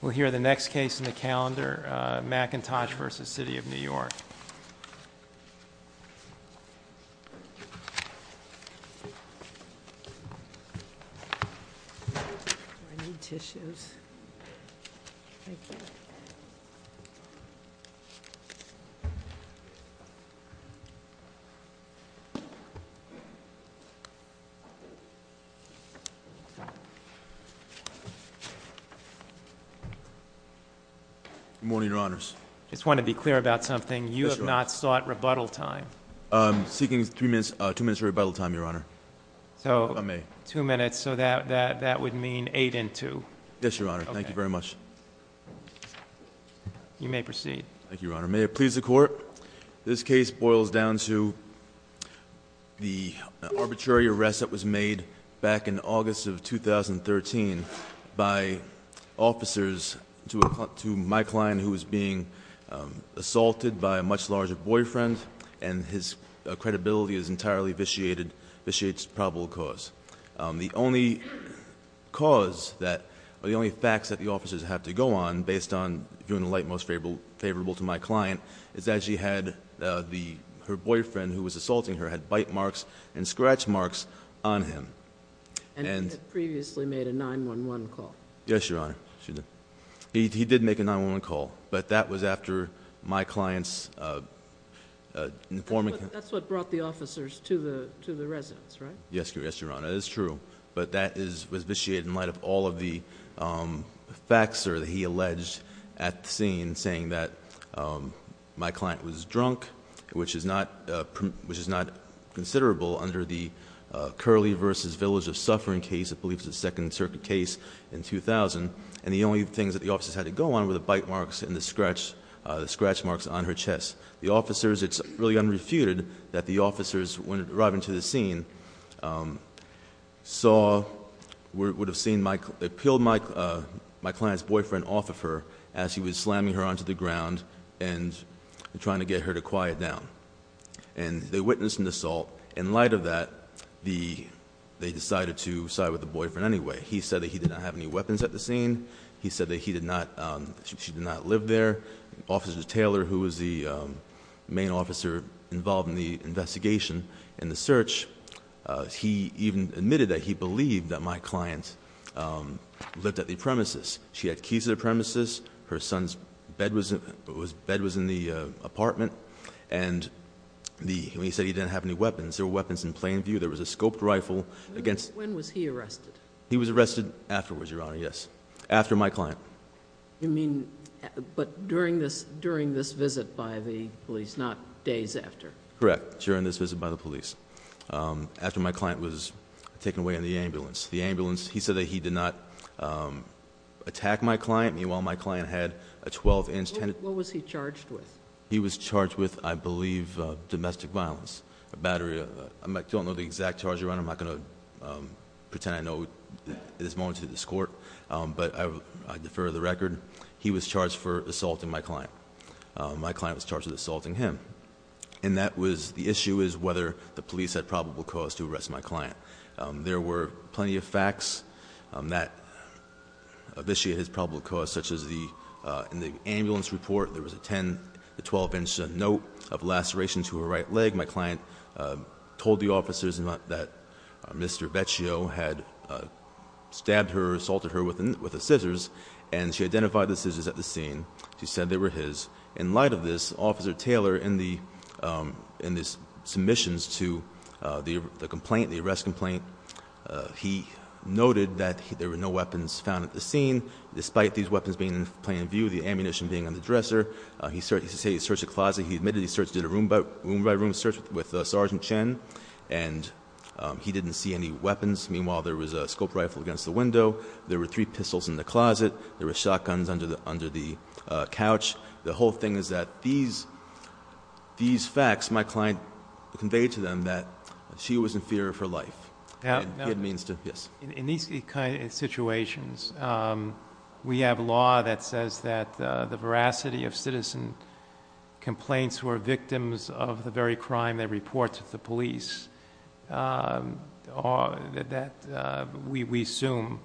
We'll hear the next case in the calendar, McIntosh v. City of New York. Good morning, Your Honors. I just want to be clear about something. You have not sought rebuttal time. I'm seeking two minutes of rebuttal time, Your Honor. Two minutes, so that would mean eight and two. Yes, Your Honor. Thank you very much. You may proceed. Thank you, Your Honor. May it please the Court, this case boils down to the arbitrary arrest that was made back in August of 2013 by officers to my client who was being assaulted by a much larger boyfriend, and his credibility is entirely vitiated to probable cause. The only cause that, or the only facts that the officers have to go on, based on viewing the light most favorable to my client, is that she had her boyfriend who was assaulting her had bite marks and scratch marks on him. And he had previously made a 9-1-1 call. Yes, Your Honor. He did make a 9-1-1 call, but that was after my client's informing him. That's what brought the officers to the residence, right? Yes, Your Honor. That is true. But that was vitiated in light of all of the facts that he alleged at the scene, in saying that my client was drunk, which is not considerable under the Curley v. Village of Suffering case, I believe it was a Second Circuit case in 2000. And the only things that the officers had to go on were the bite marks and the scratch marks on her chest. The officers, it's really unrefuted that the officers, when arriving to the scene, saw, would have seen, peeled my client's boyfriend off of her as he was slamming her onto the ground and trying to get her to quiet down. And they witnessed an assault. In light of that, they decided to side with the boyfriend anyway. He said that he did not have any weapons at the scene. He said that she did not live there. Officer Taylor, who was the main officer involved in the investigation and the search, he even admitted that he believed that my client lived at the premises. She had keys to the premises. Her son's bed was in the apartment. And he said he didn't have any weapons. There were weapons in plain view. There was a scoped rifle against— When was he arrested? He was arrested afterwards, Your Honor, yes. After my client. You mean, but during this visit by the police, not days after? Correct. During this visit by the police. After my client was taken away in the ambulance. He said that he did not attack my client. Meanwhile, my client had a 12-inch— What was he charged with? He was charged with, I believe, domestic violence. I don't know the exact charge, Your Honor. I'm not going to pretend I know at this moment to this court, but I defer the record. He was charged for assaulting my client. My client was charged with assaulting him. And that was—the issue is whether the police had probable cause to arrest my client. There were plenty of facts that officiate his probable cause, such as in the ambulance report, there was a 10- to 12-inch note of laceration to her right leg. My client told the officers that Mr. Vecchio had stabbed her, assaulted her with the scissors, and she identified the scissors at the scene. She said they were his. In light of this, Officer Taylor, in his submissions to the complaint, the arrest complaint, he noted that there were no weapons found at the scene, despite these weapons being in plain view, the ammunition being on the dresser. He said he searched the closet. He admitted he did a room-by-room search with Sergeant Chen, and he didn't see any weapons. Meanwhile, there was a scope rifle against the window. There were three pistols in the closet. There were shotguns under the couch. The whole thing is that these facts, my client conveyed to them that she was in fear of her life. In these situations, we have law that says that the veracity of citizen complaints who are victims of the very crime they report to the police, we assume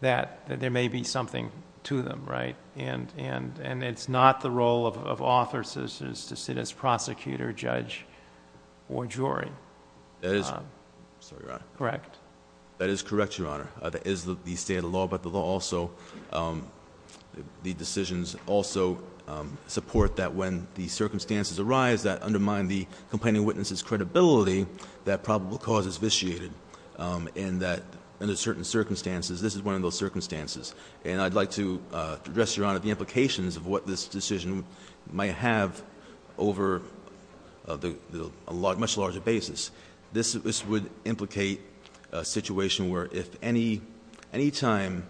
that there may be something to them, right? And it's not the role of author citizens to sit as prosecutor, judge, or jury. Sorry, Your Honor. Correct. That is correct, Your Honor. That is the state of the law, but the decisions also support that when the circumstances arise that undermine the complaining witness's credibility, that probable cause is vitiated. And that under certain circumstances, this is one of those circumstances. And I'd like to address, Your Honor, the implications of what this decision might have over a much larger basis. This would implicate a situation where if any time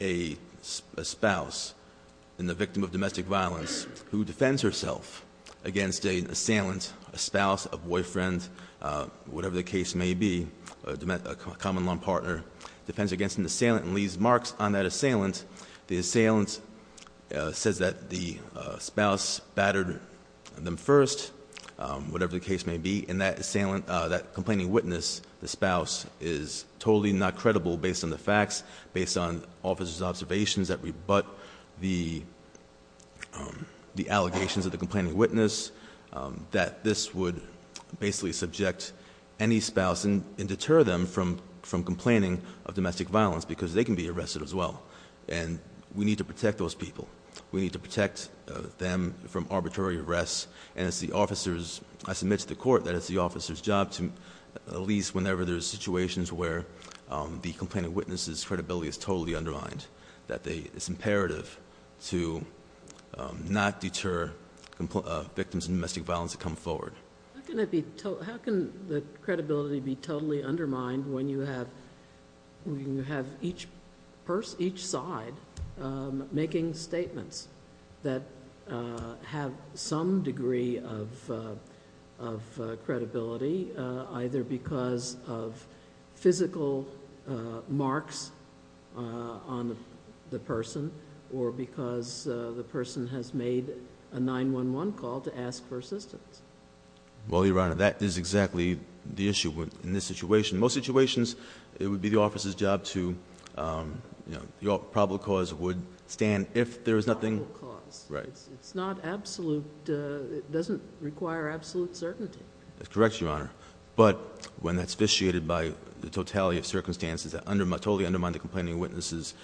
a spouse and the victim of domestic violence who defends herself against an assailant, a spouse, a boyfriend, whatever the case may be, a common law partner, defends against an assailant and leaves marks on that assailant. The assailant says that the spouse battered them first, whatever the case may be, and that complaining witness, the spouse, is totally not credible based on the facts, based on officers' observations that rebut the allegations of the complaining witness, that this would basically subject any spouse and deter them from complaining of domestic violence because they can be arrested as well. And we need to protect those people. We need to protect them from arbitrary arrests. And it's the officer's, I submit to the court that it's the officer's job to, at least whenever there's situations where the complaining witness's credibility is totally undermined, that it's imperative to not deter victims of domestic violence to come forward. How can the credibility be totally undermined when you have each side making statements that have some degree of credibility, either because of physical marks on the person, or because the person has made a 911 call to ask for assistance? Well, Your Honor, that is exactly the issue in this situation. In most situations, it would be the officer's job to, you know, the probable cause would stand if there was nothing- Probable cause. Right. It's not absolute. It doesn't require absolute certainty. That's correct, Your Honor. But when that's fictiated by the totality of circumstances that totally undermine the complaining witness's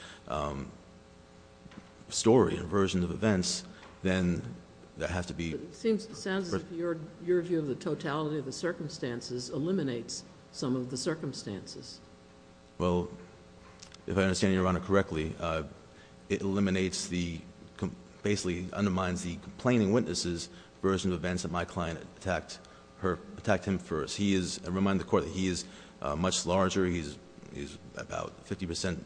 story and version of events, then that has to be- It sounds as if your view of the totality of the circumstances eliminates some of the circumstances. Well, if I understand Your Honor correctly, it eliminates the, basically undermines the complaining witness's version of events that my client attacked him first. I remind the court that he is much larger. He's about 50%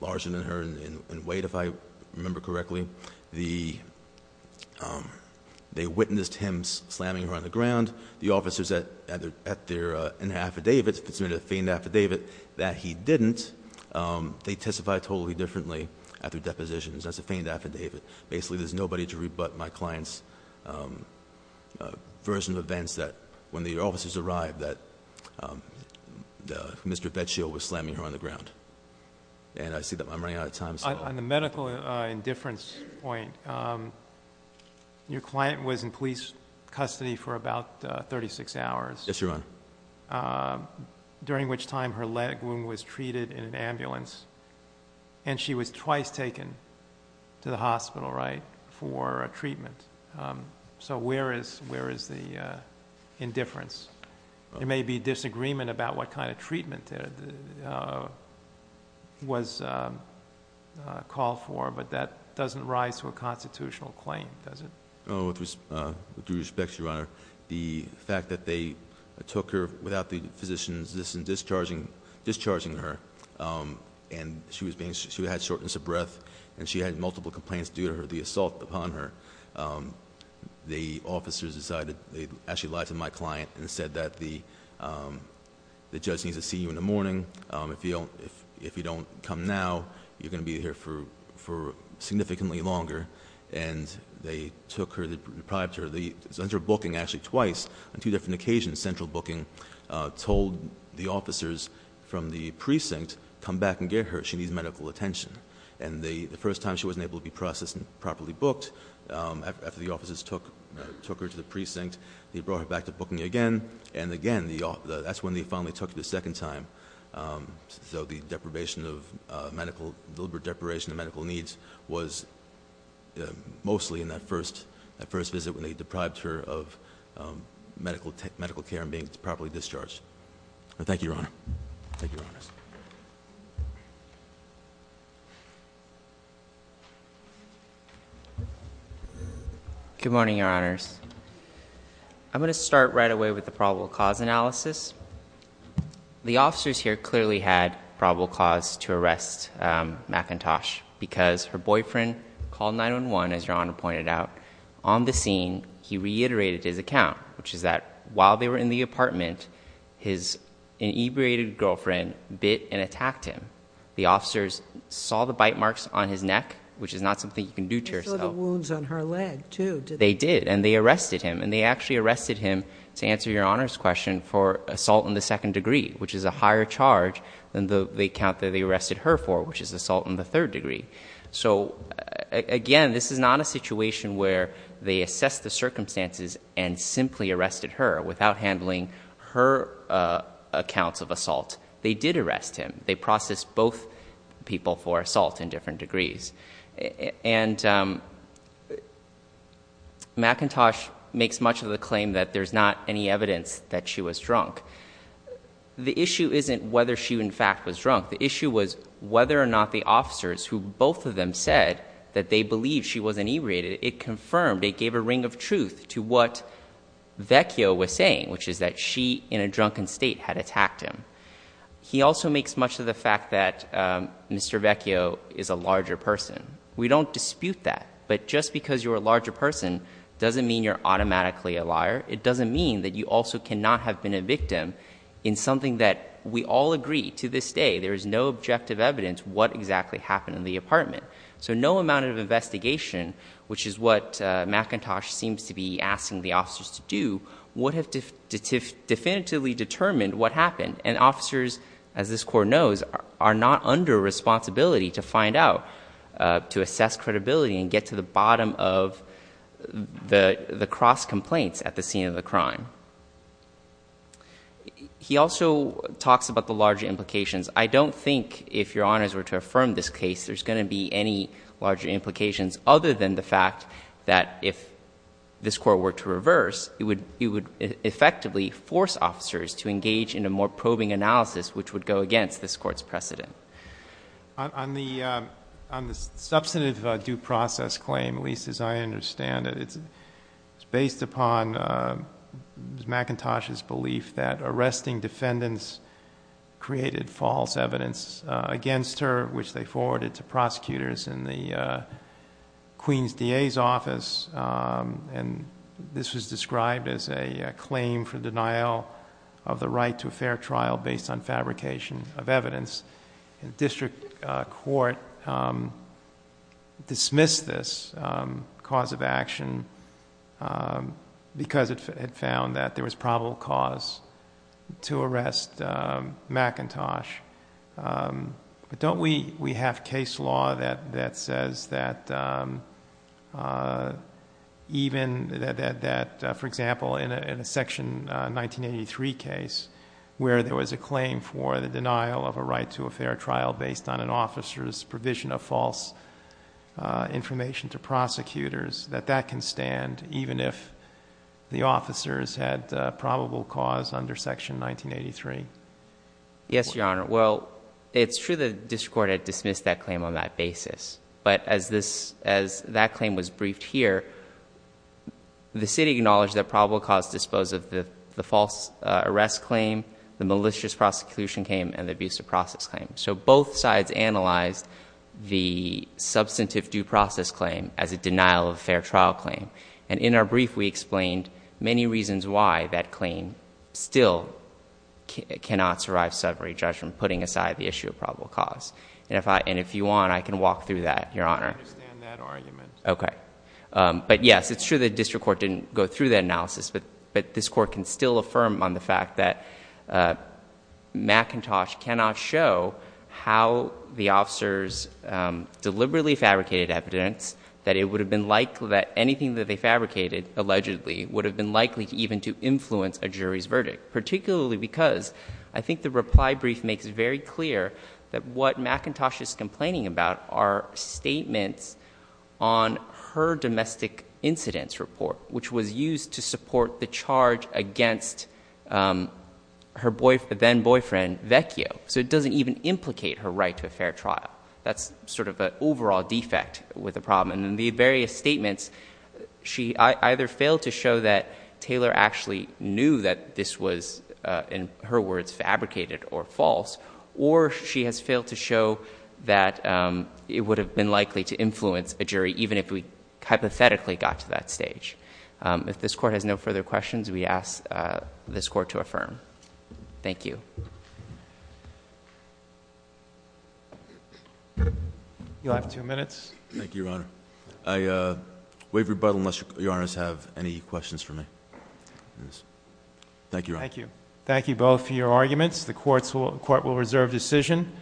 larger than her in weight, if I remember correctly. They witnessed him slamming her on the ground. The officers at their affidavits, if it's in a feigned affidavit, that he didn't. They testified totally differently at their depositions. That's a feigned affidavit. Basically, there's nobody to rebut my client's version of events that when the officers arrived, that Mr. Vecchio was slamming her on the ground. And I see that I'm running out of time. On the medical indifference point, your client was in police custody for about 36 hours. Yes, Your Honor. During which time her leg wound was treated in an ambulance. And she was twice taken to the hospital, right, for treatment. So where is the indifference? There may be disagreement about what kind of treatment was called for, but that doesn't rise to a constitutional claim, does it? With due respect, Your Honor, the fact that they took her without the physicians discharging her, and she had shortness of breath, and she had multiple complaints due to the assault upon her. The officers decided, they actually lied to my client and said that the judge needs to see you in the morning. If you don't come now, you're going to be here for significantly longer. And they took her, they deprived her. They sent her booking actually twice on two different occasions. Central booking told the officers from the precinct, come back and get her, she needs medical attention. And the first time she wasn't able to be processed and properly booked, after the officers took her to the precinct, they brought her back to booking again. And again, that's when they finally took her the second time. So the deprivation of medical, deliberate deprivation of medical needs, was mostly in that first visit when they deprived her of medical care and being properly discharged. Thank you, Your Honors. Good morning, Your Honors. I'm going to start right away with the probable cause analysis. The officers here clearly had probable cause to arrest McIntosh, because her boyfriend called 911, as Your Honor pointed out. On the scene, he reiterated his account, which is that while they were in the apartment, his inebriated girlfriend bit and attacked him. The officers saw the bite marks on his neck, which is not something you can do to yourself. They saw the wounds on her leg, too, didn't they? They did, and they arrested him. And they actually arrested him, to answer Your Honor's question, for assault in the second degree, which is a higher charge than the account that they arrested her for, which is assault in the third degree. So again, this is not a situation where they assessed the circumstances and simply arrested her without handling her accounts of assault. They did arrest him. They processed both people for assault in different degrees. And McIntosh makes much of the claim that there's not any evidence that she was drunk. The issue isn't whether she, in fact, was drunk. The issue was whether or not the officers, who both of them said that they believed she was inebriated, it confirmed, it gave a ring of truth to what Vecchio was saying, which is that she, in a drunken state, had attacked him. He also makes much of the fact that Mr. Vecchio is a larger person. We don't dispute that. But just because you're a larger person doesn't mean you're automatically a liar. It doesn't mean that you also cannot have been a victim in something that we all agree, to this day, there is no objective evidence what exactly happened in the apartment. So no amount of investigation, which is what McIntosh seems to be asking the officers to do, would have definitively determined what happened. And officers, as this Court knows, are not under responsibility to find out, to assess credibility and get to the bottom of the cross-complaints at the scene of the crime. He also talks about the larger implications. I don't think, if Your Honors were to affirm this case, there's going to be any larger implications, other than the fact that if this Court were to reverse, it would effectively force officers to engage in a more probing analysis, which would go against this Court's precedent. On the substantive due process claim, at least as I understand it, it's based upon McIntosh's belief that arresting defendants created false evidence against her, which they forwarded to prosecutors in the Queen's DA's office. And this was described as a claim for denial of the right to a fair trial based on fabrication of evidence. District Court dismissed this cause of action because it found that there was probable cause to arrest McIntosh. But don't we have case law that says that, for example, in a Section 1983 case, where there was a claim for the denial of a right to a fair trial based on an officer's provision of false information to prosecutors, that that can stand even if the officers had probable cause under Section 1983? Yes, Your Honor. Well, it's true that District Court had dismissed that claim on that basis. But as that claim was briefed here, the City acknowledged that probable cause disposed of the false arrest claim, the malicious prosecution claim, and the abusive process claim. So both sides analyzed the substantive due process claim as a denial of a fair trial claim. And in our brief, we explained many reasons why that claim still cannot survive summary judgment, putting aside the issue of probable cause. And if you want, I can walk through that, Your Honor. I understand that argument. Okay. But yes, it's true that District Court didn't go through that analysis. But this Court can still affirm on the fact that McIntosh cannot show how the officers deliberately fabricated evidence, that anything that they fabricated allegedly would have been likely even to influence a jury's verdict, particularly because I think the reply brief makes it very clear that what McIntosh is complaining about are statements on her domestic incidents report, which was used to support the charge against her then-boyfriend, Vecchio. So it doesn't even implicate her right to a fair trial. That's sort of an overall defect with the problem. And in the various statements, she either failed to show that Taylor actually knew that this was, in her words, fabricated or false, or she has failed to show that it would have been likely to influence a jury, even if we hypothetically got to that stage. If this Court has no further questions, we ask this Court to affirm. Thank you. You'll have two minutes. Thank you, Your Honor. I waive rebuttal unless Your Honors have any questions for me. Thank you, Your Honor. Thank you. Thank you both for your arguments. The Court will reserve decision.